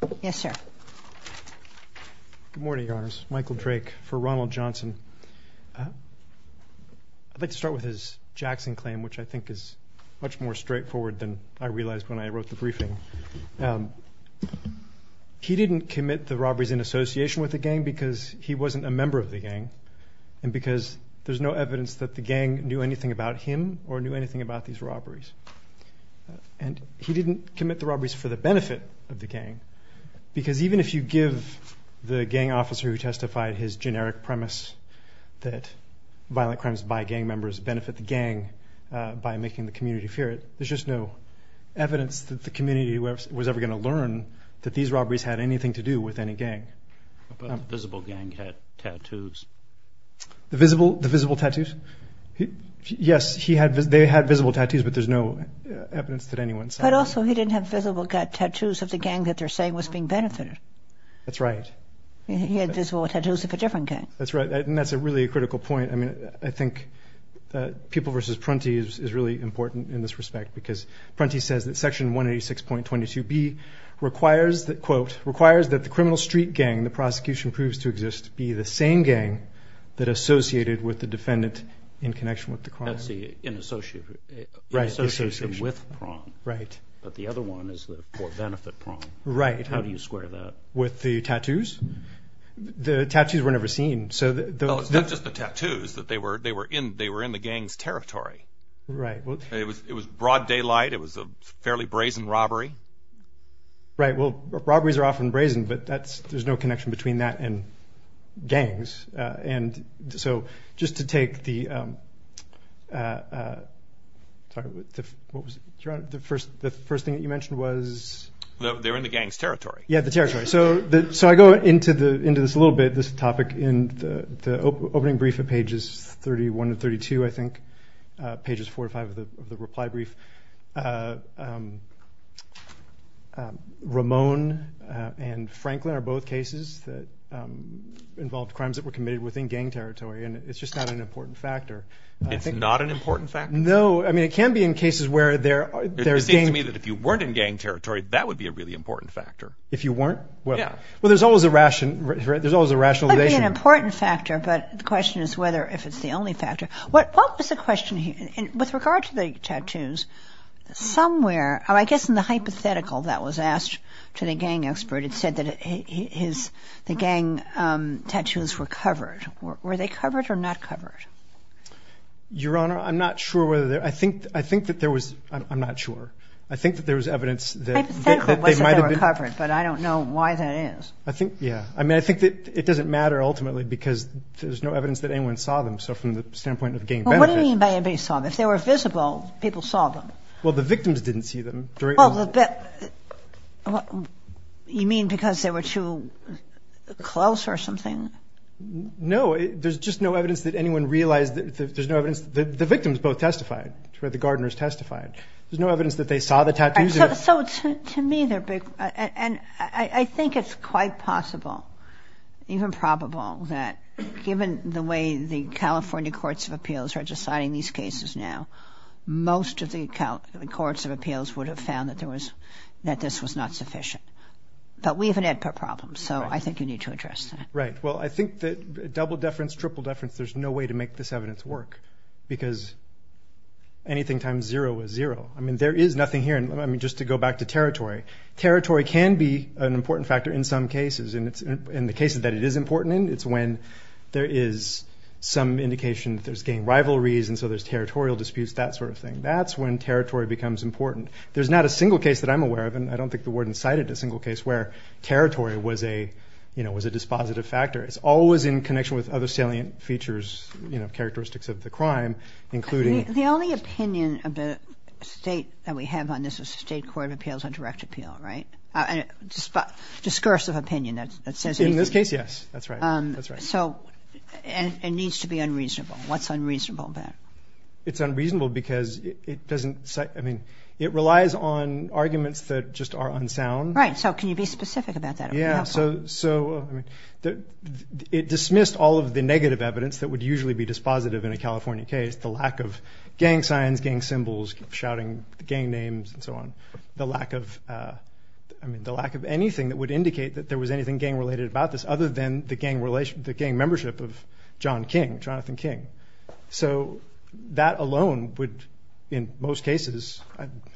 Good morning, Your Honors. Michael Drake for Ronneld Johnson. I'd like to start with his Jackson claim, which I think is much more straightforward than I realized when I wrote the briefing. He didn't commit the robberies in association with the gang because he wasn't a member of the gang and because there's no evidence that the gang knew anything about him or knew anything about these robberies. And he didn't commit the robberies for the benefit of the gang because even if you give the gang officer who testified his generic premise that violent crimes by gang members benefit the gang by making the community fear it, there's just no evidence that the community was ever going to learn that these robberies had anything to do with any gang. The visible gang had tattoos. The visible tattoos? Yes, they had visible tattoos, but there's no evidence that anyone saw them. But also he didn't have visible tattoos of the gang that they're saying was being benefited. That's right. He had visible tattoos of a different gang. That's right, and that's a really critical point. I mean, I think that People v. Prunty is really important in this respect because Prunty says that Section 186.22b requires that, quote, requires that the criminal street gang the prosecution proves to exist be the same gang that associated with the defendant in connection with the crime. That's the in association with Prunty. Right. But the other one is the for-benefit Prunty. Right. How do you square that? With the tattoos? The tattoos were never seen. Oh, it's not just the tattoos. They were in the gang's territory. Right. It was broad daylight. It was a fairly brazen robbery. Right. Well, robberies are often brazen, but there's no connection between that and gangs. And so just to take the first thing that you mentioned was? They were in the gang's territory. Yeah, the territory. So I go into this a little bit, this topic, in the opening brief at pages 31 and 32, I think, pages four or five of the reply brief. Ramon and Franklin are both cases that involved crimes that were committed within gang territory. And it's just not an important factor. It's not an important factor? No. I mean, it can be in cases where they're there. It seems to me that if you weren't in gang territory, that would be a really important factor. If you weren't? Well, yeah. Well, there's always a ration. There's always a rationalization. It would be an important factor. But the question is whether if it's the only factor. What is the question here with regard to the tattoos? Somewhere, I guess, in the hypothetical that was asked to the gang expert, it said that his the gang tattoos were covered. Were they covered or not covered? Your Honor, I'm not sure whether I think I think that there was. I'm not sure. I think that there was evidence that they might have been covered, but I don't know why that is. I think. Yeah. I mean, I think that it doesn't matter ultimately, because there's no evidence that anyone saw them. So from the standpoint of gang benefits. What do you mean by anybody saw them? If they were visible, people saw them. Well, the victims didn't see them. You mean because they were too close or something? No, there's just no evidence that anyone realized that there's no evidence that the victims both testified, or the gardeners testified. There's no evidence that they saw the tattoos. So to me, they're big. And I think it's quite possible, even probable that given the way the California Courts of Appeals are deciding these cases now, most of the courts of appeals would have found that there was that this was not sufficient. But we have an Edpert problem. So I think you need to address that. Right. Well, I think that double deference, triple deference, there's no way to make this evidence work. Because anything times zero is zero. I mean, there is nothing here. And I mean, just to go back to territory, territory can be an important in the cases that it is important in. It's when there is some indication that there's gang rivalries. And so there's territorial disputes, that sort of thing. That's when territory becomes important. There's not a single case that I'm aware of. And I don't think the warden cited a single case where territory was a, you know, was a dispositive factor. It's always in connection with other salient features, you know, characteristics of the crime, including... The only opinion of the state that we have on this is the State Court of Appeals on direct appeal, right? And discursive opinion that says... In this case, yes. That's right. That's right. So it needs to be unreasonable. What's unreasonable about it? It's unreasonable because it doesn't say, I mean, it relies on arguments that just are unsound. Right. So can you be specific about that? Yeah. So, so it dismissed all of the negative evidence that would usually be dispositive in a California case. The lack of gang signs, gang symbols, shouting gang names and so on. The lack of, I mean, the lack of anything that would indicate that there was anything gang related about this other than the gang relationship, the gang membership of John King, Jonathan King. So that alone would, in most cases,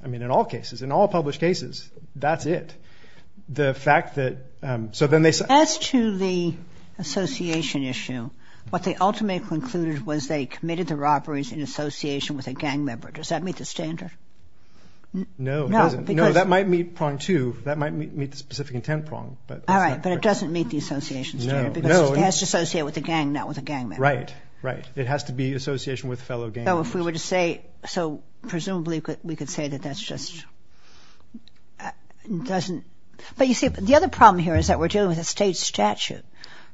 I mean, in all cases, in all published cases, that's it. The fact that, so then they said... As to the association issue, what they ultimately concluded was they committed the robberies in association with a gang member. Does that meet the standard? No, it doesn't. No, that might meet prong two. That might meet the specific intent prong. All right. But it doesn't meet the association standard because it has to associate with a gang, not with a gang member. Right. Right. It has to be association with fellow gang members. So if we were to say, so presumably we could say that that's just, it doesn't, but you see, the other problem here is that we're dealing with a state statute.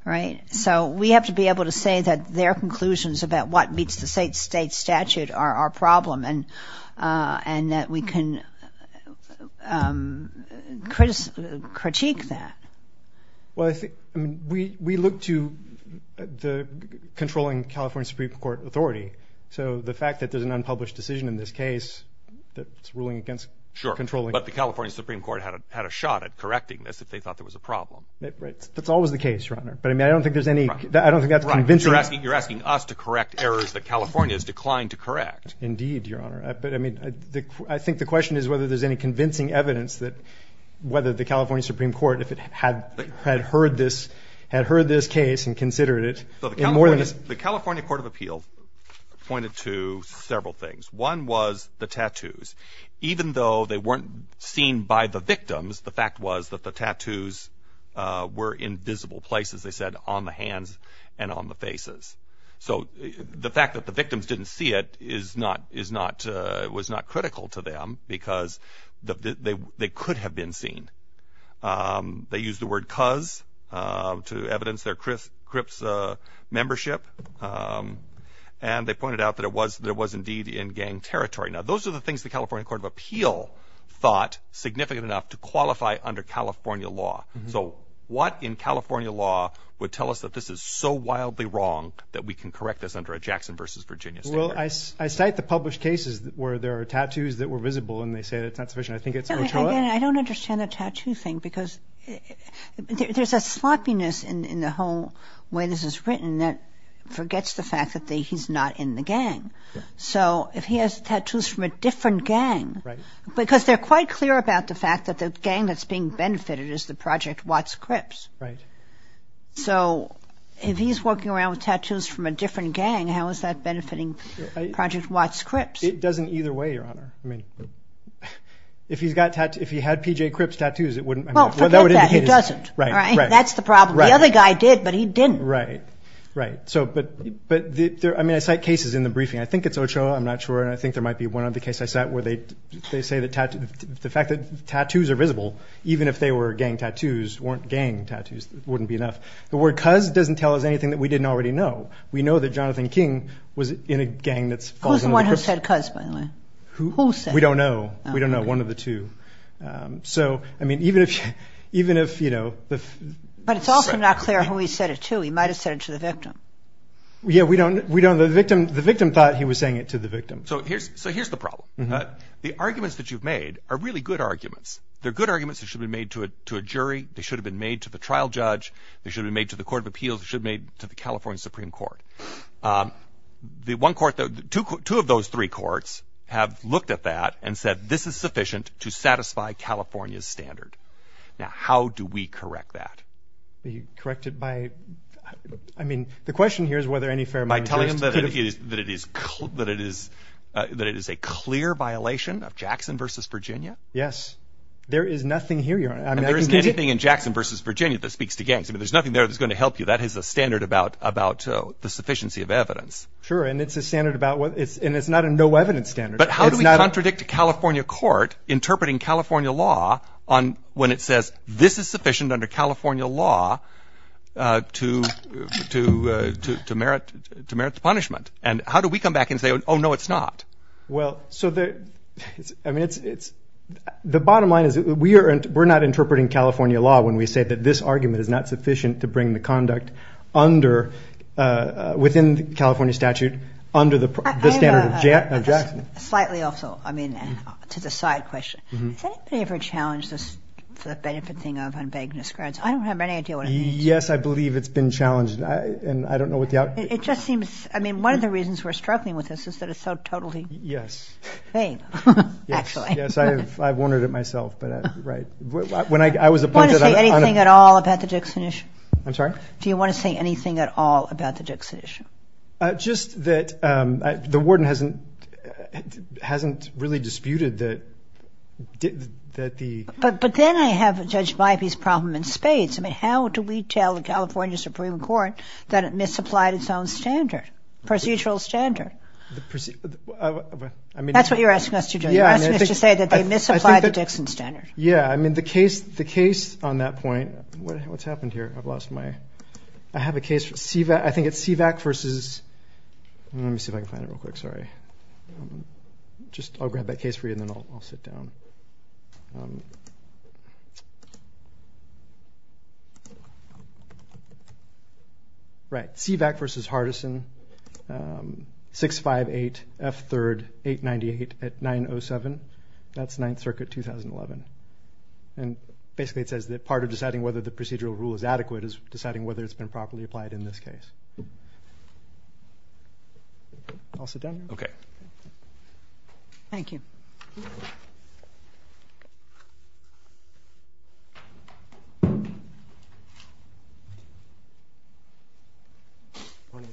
Right. So we have to be able to say that their conclusions about what meets the state statute are our problem and that we can critique that. Well, I think, I mean, we look to the controlling California Supreme Court authority. So the fact that there's an unpublished decision in this case that's ruling against controlling... But the California Supreme Court had a shot at correcting this if they thought there was a problem. Right. That's always the case, Your Honor. But I mean, I don't think there's any, I don't think that's convincing. You're asking us to correct errors that California has declined to correct. Indeed, Your Honor. But I mean, I think the question is whether there's any convincing evidence that whether the California Supreme Court, if it had heard this, had heard this case and considered it in more than... The California Court of Appeals pointed to several things. One was the tattoos. Even though they weren't seen by the victims, the fact was that the tattoos were in visible places, they said, on the faces. So the fact that the victims didn't see it was not critical to them because they could have been seen. They used the word cuz to evidence their CRIPS membership. And they pointed out that it was indeed in gang territory. Now, those are the things the California Court of Appeal thought significant enough to qualify under California law. So what in California law would tell us that this is so wildly wrong that we can correct this under a Jackson versus Virginia standard? Well, I cite the published cases where there are tattoos that were visible and they say that's not sufficient. I think it's... I don't understand the tattoo thing because there's a sloppiness in the whole way this is written that forgets the fact that he's not in the gang. So if he has tattoos from a different gang, because they're quite clear about the fact that the gang that's being benefited is the Project Watts CRIPS. Right. So if he's walking around with tattoos from a different gang, how is that benefiting Project Watts CRIPS? It doesn't either way, Your Honor. I mean, if he had PJ CRIPS tattoos, it wouldn't... Well, forget that. He doesn't. That's the problem. The other guy did, but he didn't. Right. Right. So, but I mean, I cite cases in the briefing. I think it's Ochoa. I'm not sure. And I think the fact that tattoos are visible, even if they were gang tattoos, weren't gang tattoos, that wouldn't be enough. The word cuz doesn't tell us anything that we didn't already know. We know that Jonathan King was in a gang that's... Who's the one who said cuz, by the way? Who? Who said? We don't know. We don't know. One of the two. So, I mean, even if, you know... But it's also not clear who he said it to. He might've said it to the victim. Yeah, we don't know. The victim thought he was saying it to the victim. So, here's the problem. The arguments that you've made are really good arguments. They're good arguments that should be made to a jury. They should have been made to the trial judge. They should have been made to the Court of Appeals. They should have been made to the California Supreme Court. The one court... Two of those three courts have looked at that and said, this is sufficient to satisfy California's standard. Now, how do we correct that? You correct it by... I mean, the question here is whether any fair mind jury... Do you think that it is a clear violation of Jackson v. Virginia? Yes. There is nothing here... And there isn't anything in Jackson v. Virginia that speaks to gangs. I mean, there's nothing there that's going to help you. That is a standard about the sufficiency of evidence. Sure, and it's a standard about... And it's not a no-evidence standard. But how do we contradict a California court interpreting California law when it says, this is sufficient under California law to merit the punishment? And how do we come back and say, oh, no, it's not? Well, so the... I mean, it's... The bottom line is we're not interpreting California law when we say that this argument is not sufficient to bring the conduct under... Within the California statute, under the standard of Jackson. Slightly off, though. I mean, to the side question. Has anybody ever challenged the benefit thing of unbeggedness grounds? I don't have any idea what it means. Yes, I believe it's been challenged, and I don't know what the... It just seems... I mean, one of the reasons we're struggling with this is that it's so totally... Yes. ...fame, actually. Yes, I've wondered it myself, but... Right. When I was appointed... Do you want to say anything at all about the Dixon issue? I'm sorry? Do you want to say anything at all about the Dixon issue? Just that the warden hasn't really disputed that the... But then I have Judge Bybee's problem in spades. I mean, how do we tell the California Supreme Court that it misapplied its own standard? Procedural standard. That's what you're asking us to do. You're asking us to say that they misapplied the Dixon standard. Yes, I mean, the case on that point... What's happened here? I've lost my... I have a case. I think it's CVAC versus... Let me see if I can find it real quick. Sorry. Just I'll grab that case for you, and then I'll sit down. Right. CVAC versus Hardison, 658F3, 898 at 907. That's Ninth Circuit, 2011. And basically it says that part of deciding whether the procedural rule is adequate is deciding whether it's been properly applied in this case. I'll sit down now. Okay. Thank you. Morning.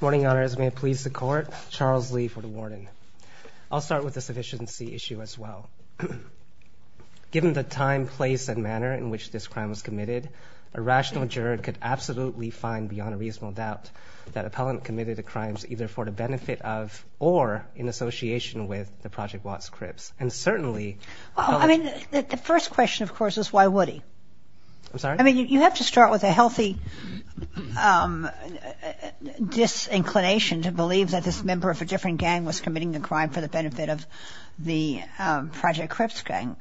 Morning, Your Honors. May it please the Court, Charles Lee for the warden. I'll start with the sufficiency issue as well. Given the time, place, and manner in which this crime was committed, a rational juror could absolutely find beyond a reasonable doubt that appellant committed the crimes either for the benefit of or in association with the Project Watts Crips. And certainly... Well, I mean, the first question, of course, is why would he? I'm sorry? I mean, you have to start with a healthy disinclination to believe that this member of a different gang was committing the crime for the benefit of the Project Crips gang.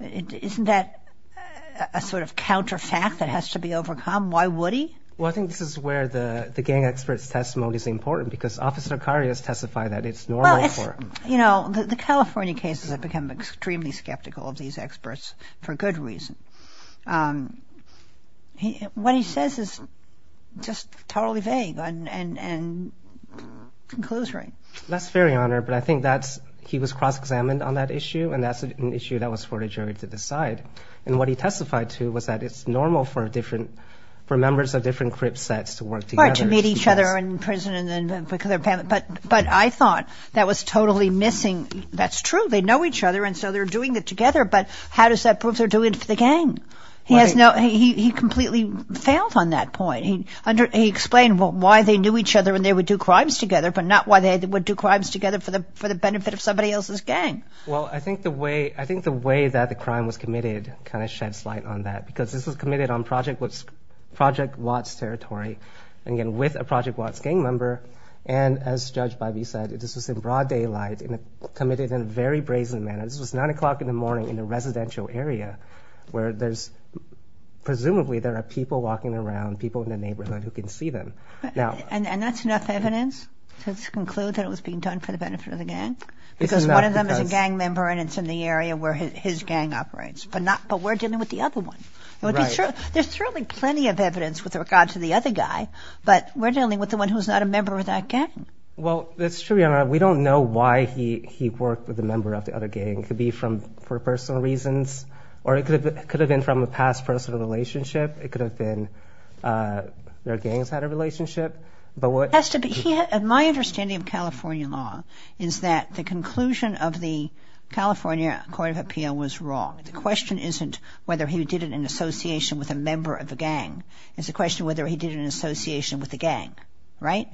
Isn't that a sort of counterfact that has to be overcome? Why would he? Well, I think this is where the gang expert's testimony is important because Officer Carias testified that it's normal for him. You know, the California cases have become extremely skeptical of these experts for good reason. What he says is just totally vague and conclusory. That's fair, Your Honor. But I think he was cross-examined on that issue, and that's an issue that was for the jury to decide. And what he testified to was that it's normal for members of different cripsets to work together. Right, to meet each other in prison. But I thought that was totally missing. That's true. They know each other, and so they're doing it together. But how does that prove they're doing it for the gang? He completely failed on that point. He explained why they knew each other and they would do crimes together but not why they would do crimes together for the benefit of somebody else's gang. Well, I think the way that the crime was committed kind of sheds light on that because this was committed on Project Watts territory, again, with a Project Watts gang member. And as Judge Bivey said, this was in broad daylight and committed in a very brazen manner. This was 9 o'clock in the morning in a residential area where presumably there are people walking around, people in the neighborhood who can see them. And that's enough evidence to conclude that it was being done for the benefit of the gang? Because one of them is a gang member and it's in the area where his gang operates. But we're dealing with the other one. There's certainly plenty of evidence with regard to the other guy, but we're dealing with the one who's not a member of that gang. Well, that's true, Your Honor. We don't know why he worked with a member of the other gang. It could be for personal reasons, or it could have been from a past personal relationship. It could have been their gangs had a relationship. It has to be. My understanding of California law is that the conclusion of the California Court of Appeal was wrong. The question isn't whether he did it in association with a member of a gang. It's a question whether he did it in association with a gang, right?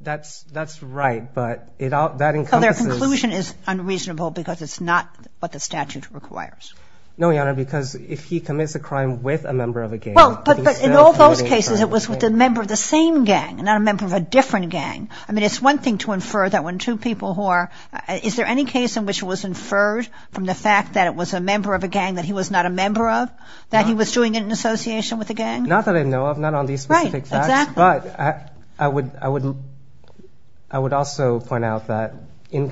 That's right, but that encompasses— So their conclusion is unreasonable because it's not what the statute requires? No, Your Honor, because if he commits a crime with a member of a gang— Well, but in all those cases it was with a member of the same gang, not a member of a different gang. I mean, it's one thing to infer that when two people who are— is there any case in which it was inferred from the fact that it was a member of a gang that he was not a member of, that he was doing it in association with a gang? Not that I know of, not on these specific facts. Right, exactly. But I would also point out that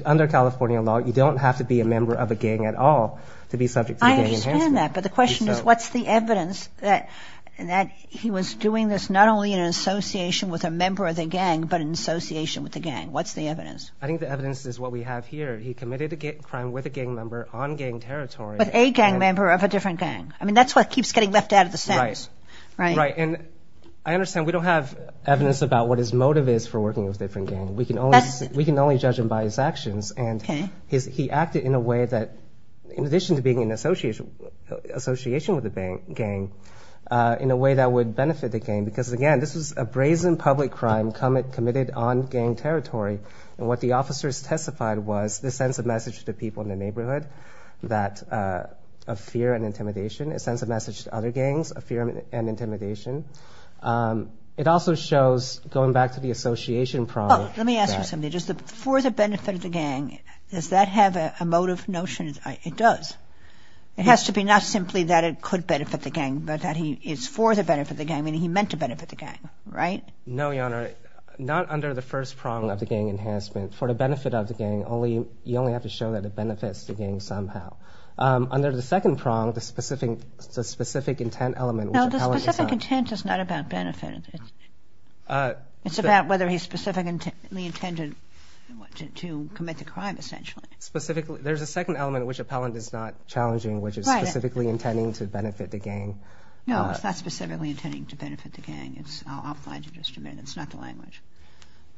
under California law, you don't have to be a member of a gang at all to be subject to a gang enhancement. I understand that, but the question is what's the evidence that he was doing this not only in association with a member of the gang, but in association with the gang? What's the evidence? I think the evidence is what we have here. He committed a crime with a gang member on gang territory. With a gang member of a different gang. I mean, that's what keeps getting left out of the sentence. Right, right. And I understand we don't have evidence about what his motive is for working with a different gang. We can only judge him by his actions. Okay. And he acted in a way that, in addition to being in association with a gang, in a way that would benefit the gang. Because, again, this was a brazen public crime committed on gang territory. And what the officers testified was this sends a message to people in the neighborhood of fear and intimidation. It sends a message to other gangs of fear and intimidation. It also shows, going back to the association problem. Well, let me ask you something. For the benefit of the gang, does that have a motive notion? It does. It has to be not simply that it could benefit the gang, but that he is for the benefit of the gang, meaning he meant to benefit the gang. Right? No, Your Honor. Not under the first prong of the gang enhancement. For the benefit of the gang, you only have to show that it benefits the gang somehow. Under the second prong, the specific intent element. No, the specific intent is not about benefit. It's about whether he specifically intended to commit the crime, essentially. Specifically. There's a second element in which appellant is not challenging, which is specifically intending to benefit the gang. No, it's not specifically intending to benefit the gang. I'll find it in just a minute. It's not the language.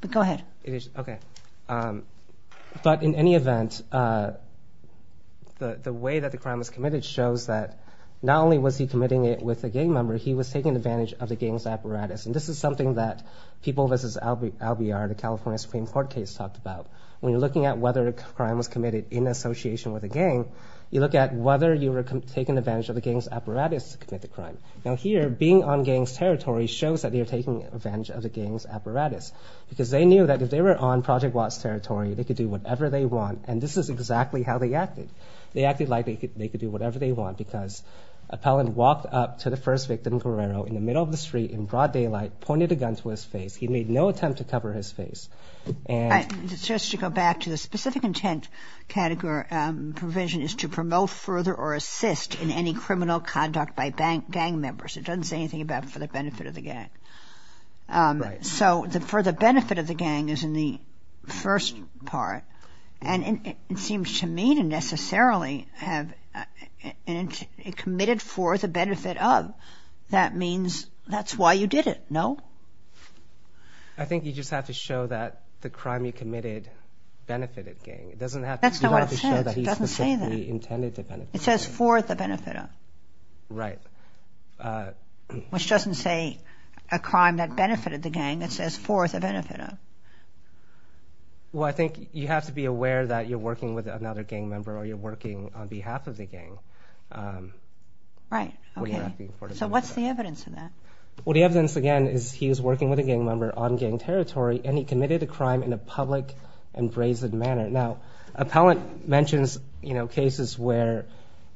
But go ahead. Okay. But in any event, the way that the crime was committed shows that not only was he committing it with a gang member, he was taking advantage of the gang's apparatus. And this is something that people versus LBR, the California Supreme Court case, talked about. When you're looking at whether a crime was committed in association with a gang, you look at whether you were taking advantage of the gang's apparatus to commit the crime. Now here, being on gang's territory shows that you're taking advantage of the gang's apparatus because they knew that if they were on Project Watts' territory, they could do whatever they want, and this is exactly how they acted. They acted like they could do whatever they want because an appellant walked up to the first victim, Guerrero, in the middle of the street, in broad daylight, pointed a gun to his face. He made no attempt to cover his face. Just to go back to the specific intent provision is to promote further or assist in any criminal conduct by gang members. It doesn't say anything about for the benefit of the gang. So for the benefit of the gang is in the first part, and it seems to me to necessarily have committed for the benefit of. That means that's why you did it, no? I think you just have to show that the crime you committed benefited the gang. That's not what it says. It doesn't say that. It says for the benefit of. Right. Which doesn't say a crime that benefited the gang. It says for the benefit of. Well, I think you have to be aware that you're working with another gang member or you're working on behalf of the gang. Right. Okay. So what's the evidence of that? Well, the evidence, again, is he was working with a gang member on gang territory and he committed a crime in a public and brazen manner. Now, appellant mentions, you know, cases where,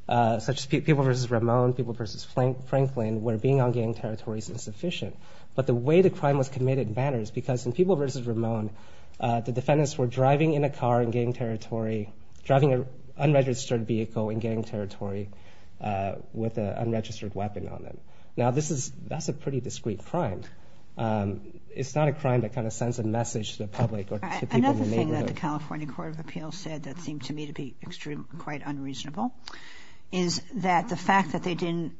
such as people versus Ramon, people versus Franklin, where being on gang territory is insufficient. But the way the crime was committed matters because in people versus Ramon, the defendants were driving in a car in gang territory, driving an unregistered vehicle in gang territory with an unregistered weapon on it. Now, that's a pretty discrete crime. It's not a crime that kind of sends a message to the public or to people in the neighborhood. Another thing that the California Court of Appeals said that seemed to me to be quite unreasonable is that the fact that they didn't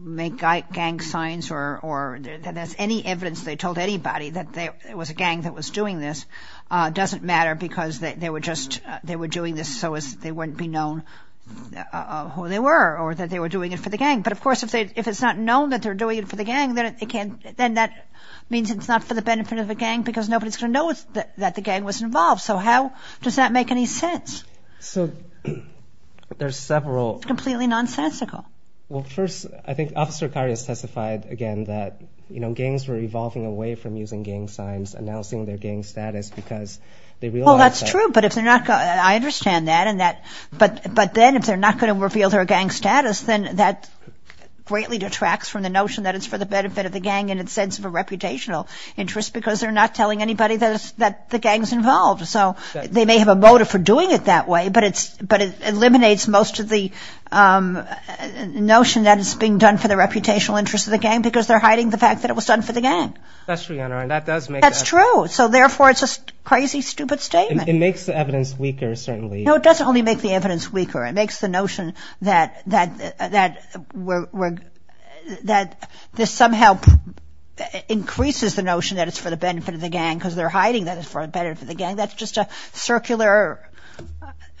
make gang signs or that there's any evidence they told anybody that there was a gang that was doing this doesn't matter because they were doing this so as they wouldn't be known who they were or that they were doing it for the gang. But, of course, if it's not known that they're doing it for the gang, then that means it's not for the benefit of the gang because nobody's going to know that the gang was involved. So how does that make any sense? So there's several... It's completely nonsensical. Well, first, I think Officer Akari has testified again that, you know, gangs were evolving away from using gang signs, announcing their gang status because they realized that... Well, that's true, but if they're not... I understand that and that... But then if they're not going to reveal their gang status, then that greatly detracts from the notion that it's for the benefit of the gang in its sense of a reputational interest because they're not telling anybody that the gang's involved. So they may have a motive for doing it that way, but it eliminates most of the notion that it's being done for the reputational interest of the gang because they're hiding the fact that it was done for the gang. That's true, Your Honor, and that does make sense. That's true. So, therefore, it's a crazy, stupid statement. It makes the evidence weaker, certainly. No, it doesn't only make the evidence weaker. that it's for the benefit of the gang because they're hiding that it's for the benefit of the gang. That's just a circular,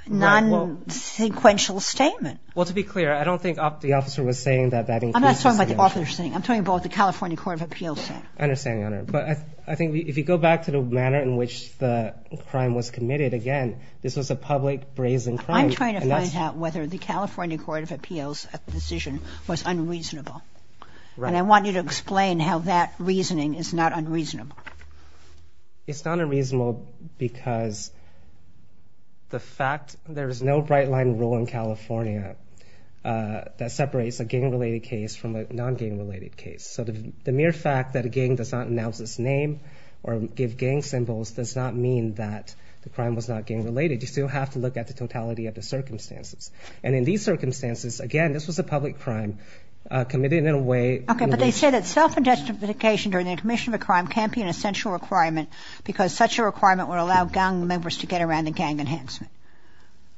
non-sequential statement. Well, to be clear, I don't think the officer was saying that that includes... I'm not talking about the officer saying it. I'm talking about what the California Court of Appeals said. I understand, Your Honor, but I think if you go back to the manner in which the crime was committed, again, this was a public brazen crime. I'm trying to find out whether the California Court of Appeals' decision was unreasonable, and I want you to explain how that reasoning is not unreasonable. It's not unreasonable because the fact there's no bright-line rule in California that separates a gang-related case from a non-gang-related case. So the mere fact that a gang does not announce its name or give gang symbols does not mean that the crime was not gang-related. You still have to look at the totality of the circumstances, and in these circumstances, again, this was a public crime committed in a way... Okay, but they say that self-identification during the commission of a crime can't be an essential requirement because such a requirement would allow gang members to get around the gang enhancement.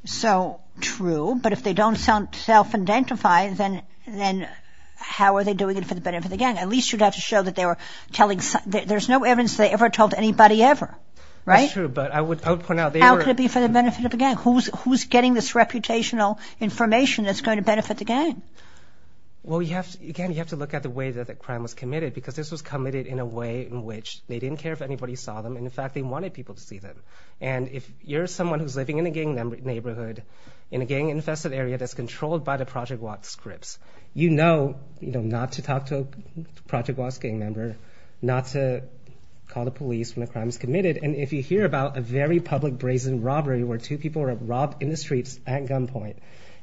So, true, but if they don't self-identify, then how are they doing it for the benefit of the gang? At least you'd have to show that they were telling... There's no evidence they ever told anybody ever, right? That's true, but I would point out... How could it be for the benefit of the gang? Who's getting this reputational information that's going to benefit the gang? Well, again, you have to look at the way that the crime was committed because this was committed in a way in which they didn't care if anybody saw them. In fact, they wanted people to see them. And if you're someone who's living in a gang neighborhood, in a gang-infested area that's controlled by the Project Watts groups, you know not to talk to a Project Watts gang member, not to call the police when a crime is committed. And if you hear about a very public brazen robbery where two people were robbed in the streets at gunpoint,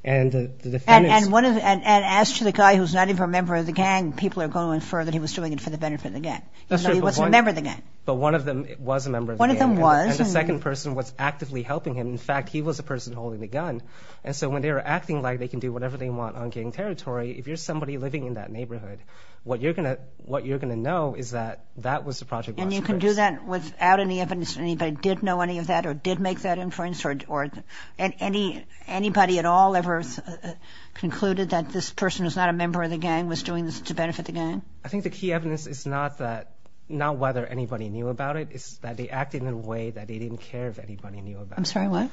and the defendants... And as to the guy who's not even a member of the gang, people are going to infer that he was doing it for the benefit of the gang. He wasn't a member of the gang. But one of them was a member of the gang. One of them was. And the second person was actively helping him. In fact, he was the person holding the gun. And so when they were acting like they can do whatever they want on gang territory, if you're somebody living in that neighborhood, what you're going to know is that that was the Project Watts group. And you can do that without any evidence that anybody did know any of that or did make that inference or anybody at all ever concluded that this person who's not a member of the gang was doing this to benefit the gang? I think the key evidence is not whether anybody knew about it. It's that they acted in a way that they didn't care if anybody knew about it. I'm sorry, what?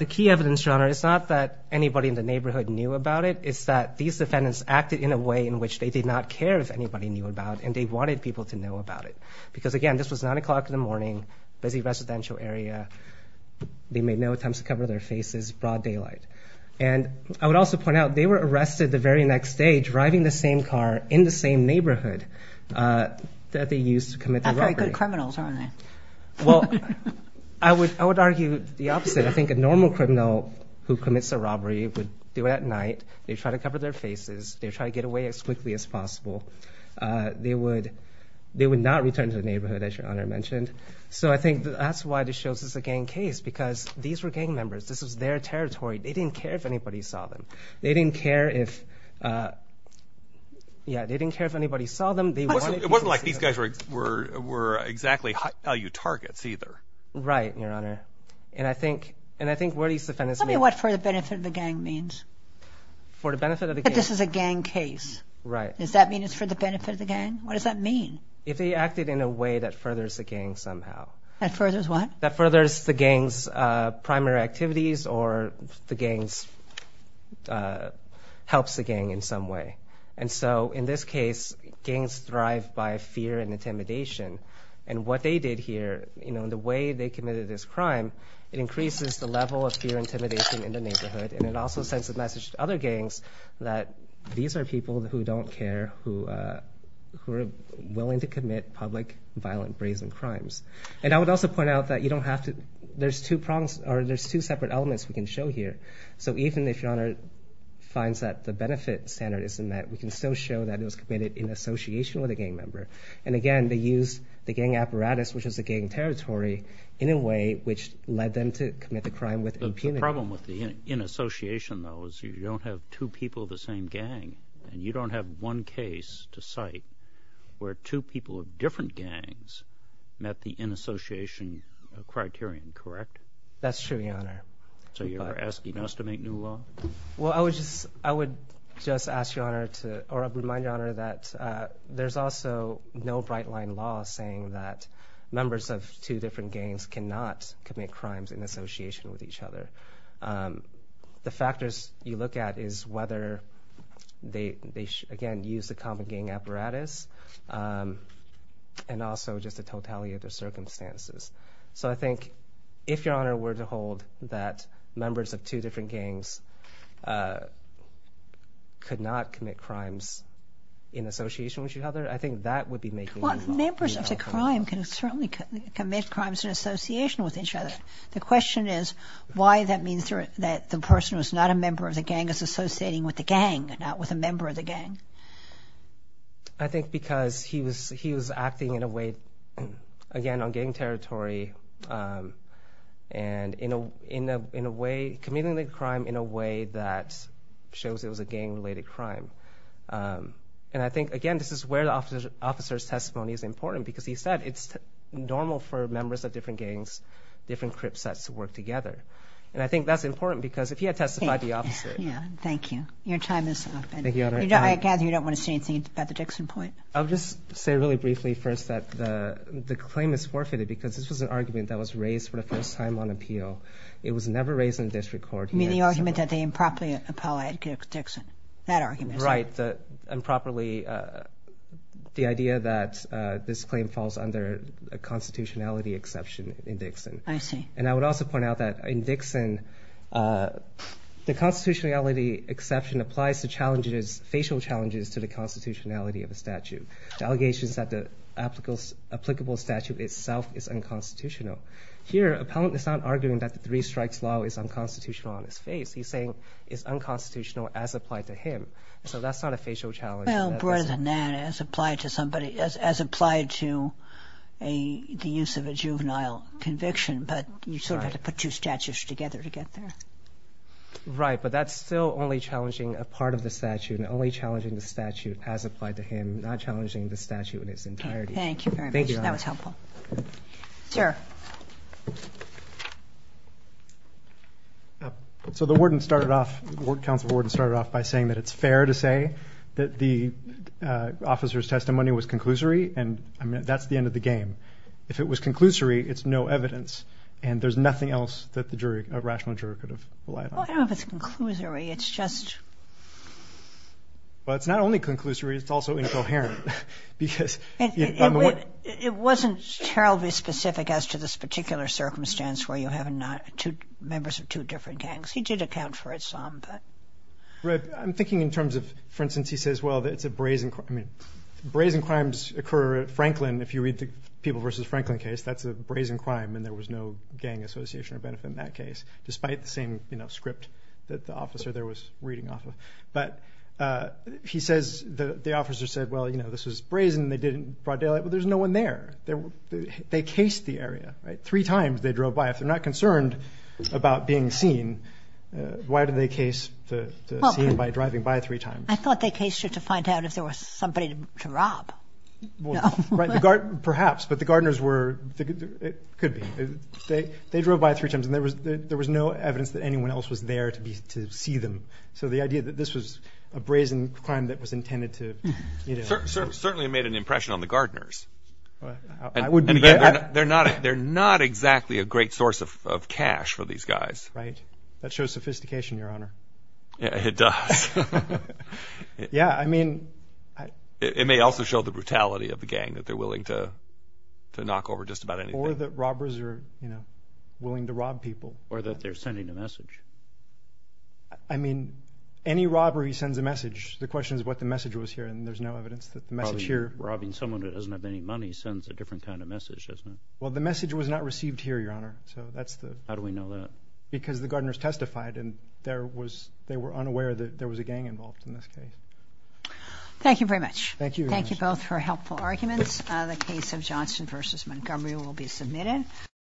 The key evidence, Your Honor, is not that anybody in the neighborhood knew about it. It's that these defendants acted in a way in which they did not care if anybody knew about it, and they wanted people to know about it. Because, again, this was 9 o'clock in the morning, busy residential area. They made no attempts to cover their faces, broad daylight. And I would also point out they were arrested the very next day driving the same car in the same neighborhood that they used to commit the robbery. Not very good criminals, are they? Well, I would argue the opposite. I think a normal criminal who commits a robbery would do it at night. They'd try to cover their faces. They'd try to get away as quickly as possible. They would not return to the neighborhood, as Your Honor mentioned. So I think that's why this shows it's a gang case, because these were gang members. This was their territory. They didn't care if anybody saw them. They didn't care if anybody saw them. It wasn't like these guys were exactly high-value targets either. Right, Your Honor. And I think where these defendants may be. Tell me what for the benefit of the gang means. For the benefit of the gang. That this is a gang case. Right. Does that mean it's for the benefit of the gang? What does that mean? If they acted in a way that furthers the gang somehow. That furthers what? That furthers the gang's primary activities or helps the gang in some way. And so in this case, gangs thrive by fear and intimidation. And what they did here, the way they committed this crime, it increases the level of fear and intimidation in the neighborhood, and it also sends a message to other gangs that these are people who don't care, who are willing to commit public, violent, brazen crimes. And I would also point out that you don't have to – there's two separate elements we can show here. So even if Your Honor finds that the benefit standard isn't met, we can still show that it was committed in association with a gang member. And again, they used the gang apparatus, which was the gang territory, in a way which led them to commit the crime with impunity. The problem with the in-association, though, is you don't have two people of the same gang, and you don't have one case to cite where two people of different gangs met the in-association criterion, correct? That's true, Your Honor. So you're asking us to make new law? Well, I would just ask Your Honor to – or remind Your Honor that there's also no bright-line law saying that the factors you look at is whether they, again, use the common gang apparatus and also just the totality of the circumstances. So I think if Your Honor were to hold that members of two different gangs could not commit crimes in association with each other, I think that would be making new law. Well, members of the crime can certainly commit crimes in association with each other. The question is why that means that the person who's not a member of the gang is associating with the gang and not with a member of the gang. I think because he was acting in a way, again, on gang territory and in a way – committing the crime in a way that shows it was a gang-related crime. And I think, again, this is where the officer's testimony is important because he said it's normal for members of different gangs, different crip sets to work together. And I think that's important because if he had testified, the officer – Yeah, thank you. Your time is up. Thank you, Your Honor. I gather you don't want to say anything about the Dixon point. I'll just say really briefly first that the claim is forfeited because this was an argument that was raised for the first time on appeal. It was never raised in district court. You mean the argument that they improperly appelled Dickson? That argument? Right. Improperly. The idea that this claim falls under a constitutionality exception in Dixon. I see. And I would also point out that in Dixon, the constitutionality exception applies to challenges – facial challenges to the constitutionality of a statute. The allegations that the applicable statute itself is unconstitutional. Here, appellant is not arguing that the three strikes law is unconstitutional on his face. He's saying it's unconstitutional as applied to him. So that's not a facial challenge. Well, more than that, as applied to somebody – as applied to the use of a juvenile conviction, but you sort of have to put two statutes together to get there. Right, but that's still only challenging a part of the statute and only challenging the statute as applied to him, not challenging the statute in its entirety. Thank you very much. That was helpful. Sir. So the warden started off – the ward council warden started off by saying that it's fair to say that the officer's testimony was conclusory, and that's the end of the game. If it was conclusory, it's no evidence, and there's nothing else that the jury – a rational jury could have relied on. Well, I don't know if it's conclusory. It's just – Well, it's not only conclusory. It's also incoherent because – It wasn't terribly specific as to this particular circumstance where you have members of two different gangs. He did account for it some, but – I'm thinking in terms of – for instance, he says, well, it's a brazen – brazen crimes occur at Franklin. If you read the People v. Franklin case, that's a brazen crime, and there was no gang association or benefit in that case, despite the same script that the officer there was reading off of. But he says – the officer said, well, you know, this was brazen, and they didn't – brought daylight. Well, there's no one there. They cased the area, right? Three times they drove by. If they're not concerned about being seen, why did they case the scene by driving by three times? I thought they cased it to find out if there was somebody to rob. Well, right. Perhaps, but the Gardners were – it could be. They drove by three times, and there was no evidence that anyone else was there to see them. So the idea that this was a brazen crime that was intended to – certainly made an impression on the Gardners. I would – They're not exactly a great source of cash for these guys. Right. That shows sophistication, Your Honor. It does. Yeah, I mean – It may also show the brutality of the gang, that they're willing to knock over just about anything. Or that robbers are, you know, willing to rob people. Or that they're sending a message. I mean, any robbery sends a message. The question is what the message was here, and there's no evidence that the message here – Probably robbing someone who doesn't have any money sends a different kind of message, doesn't it? Well, the message was not received here, Your Honor. So that's the – How do we know that? Because the Gardners testified, and they were unaware that there was a gang involved in this case. Thank you very much. Thank you, Your Honor. Thank you both for helpful arguments. The case of Johnson v. Montgomery will be submitted.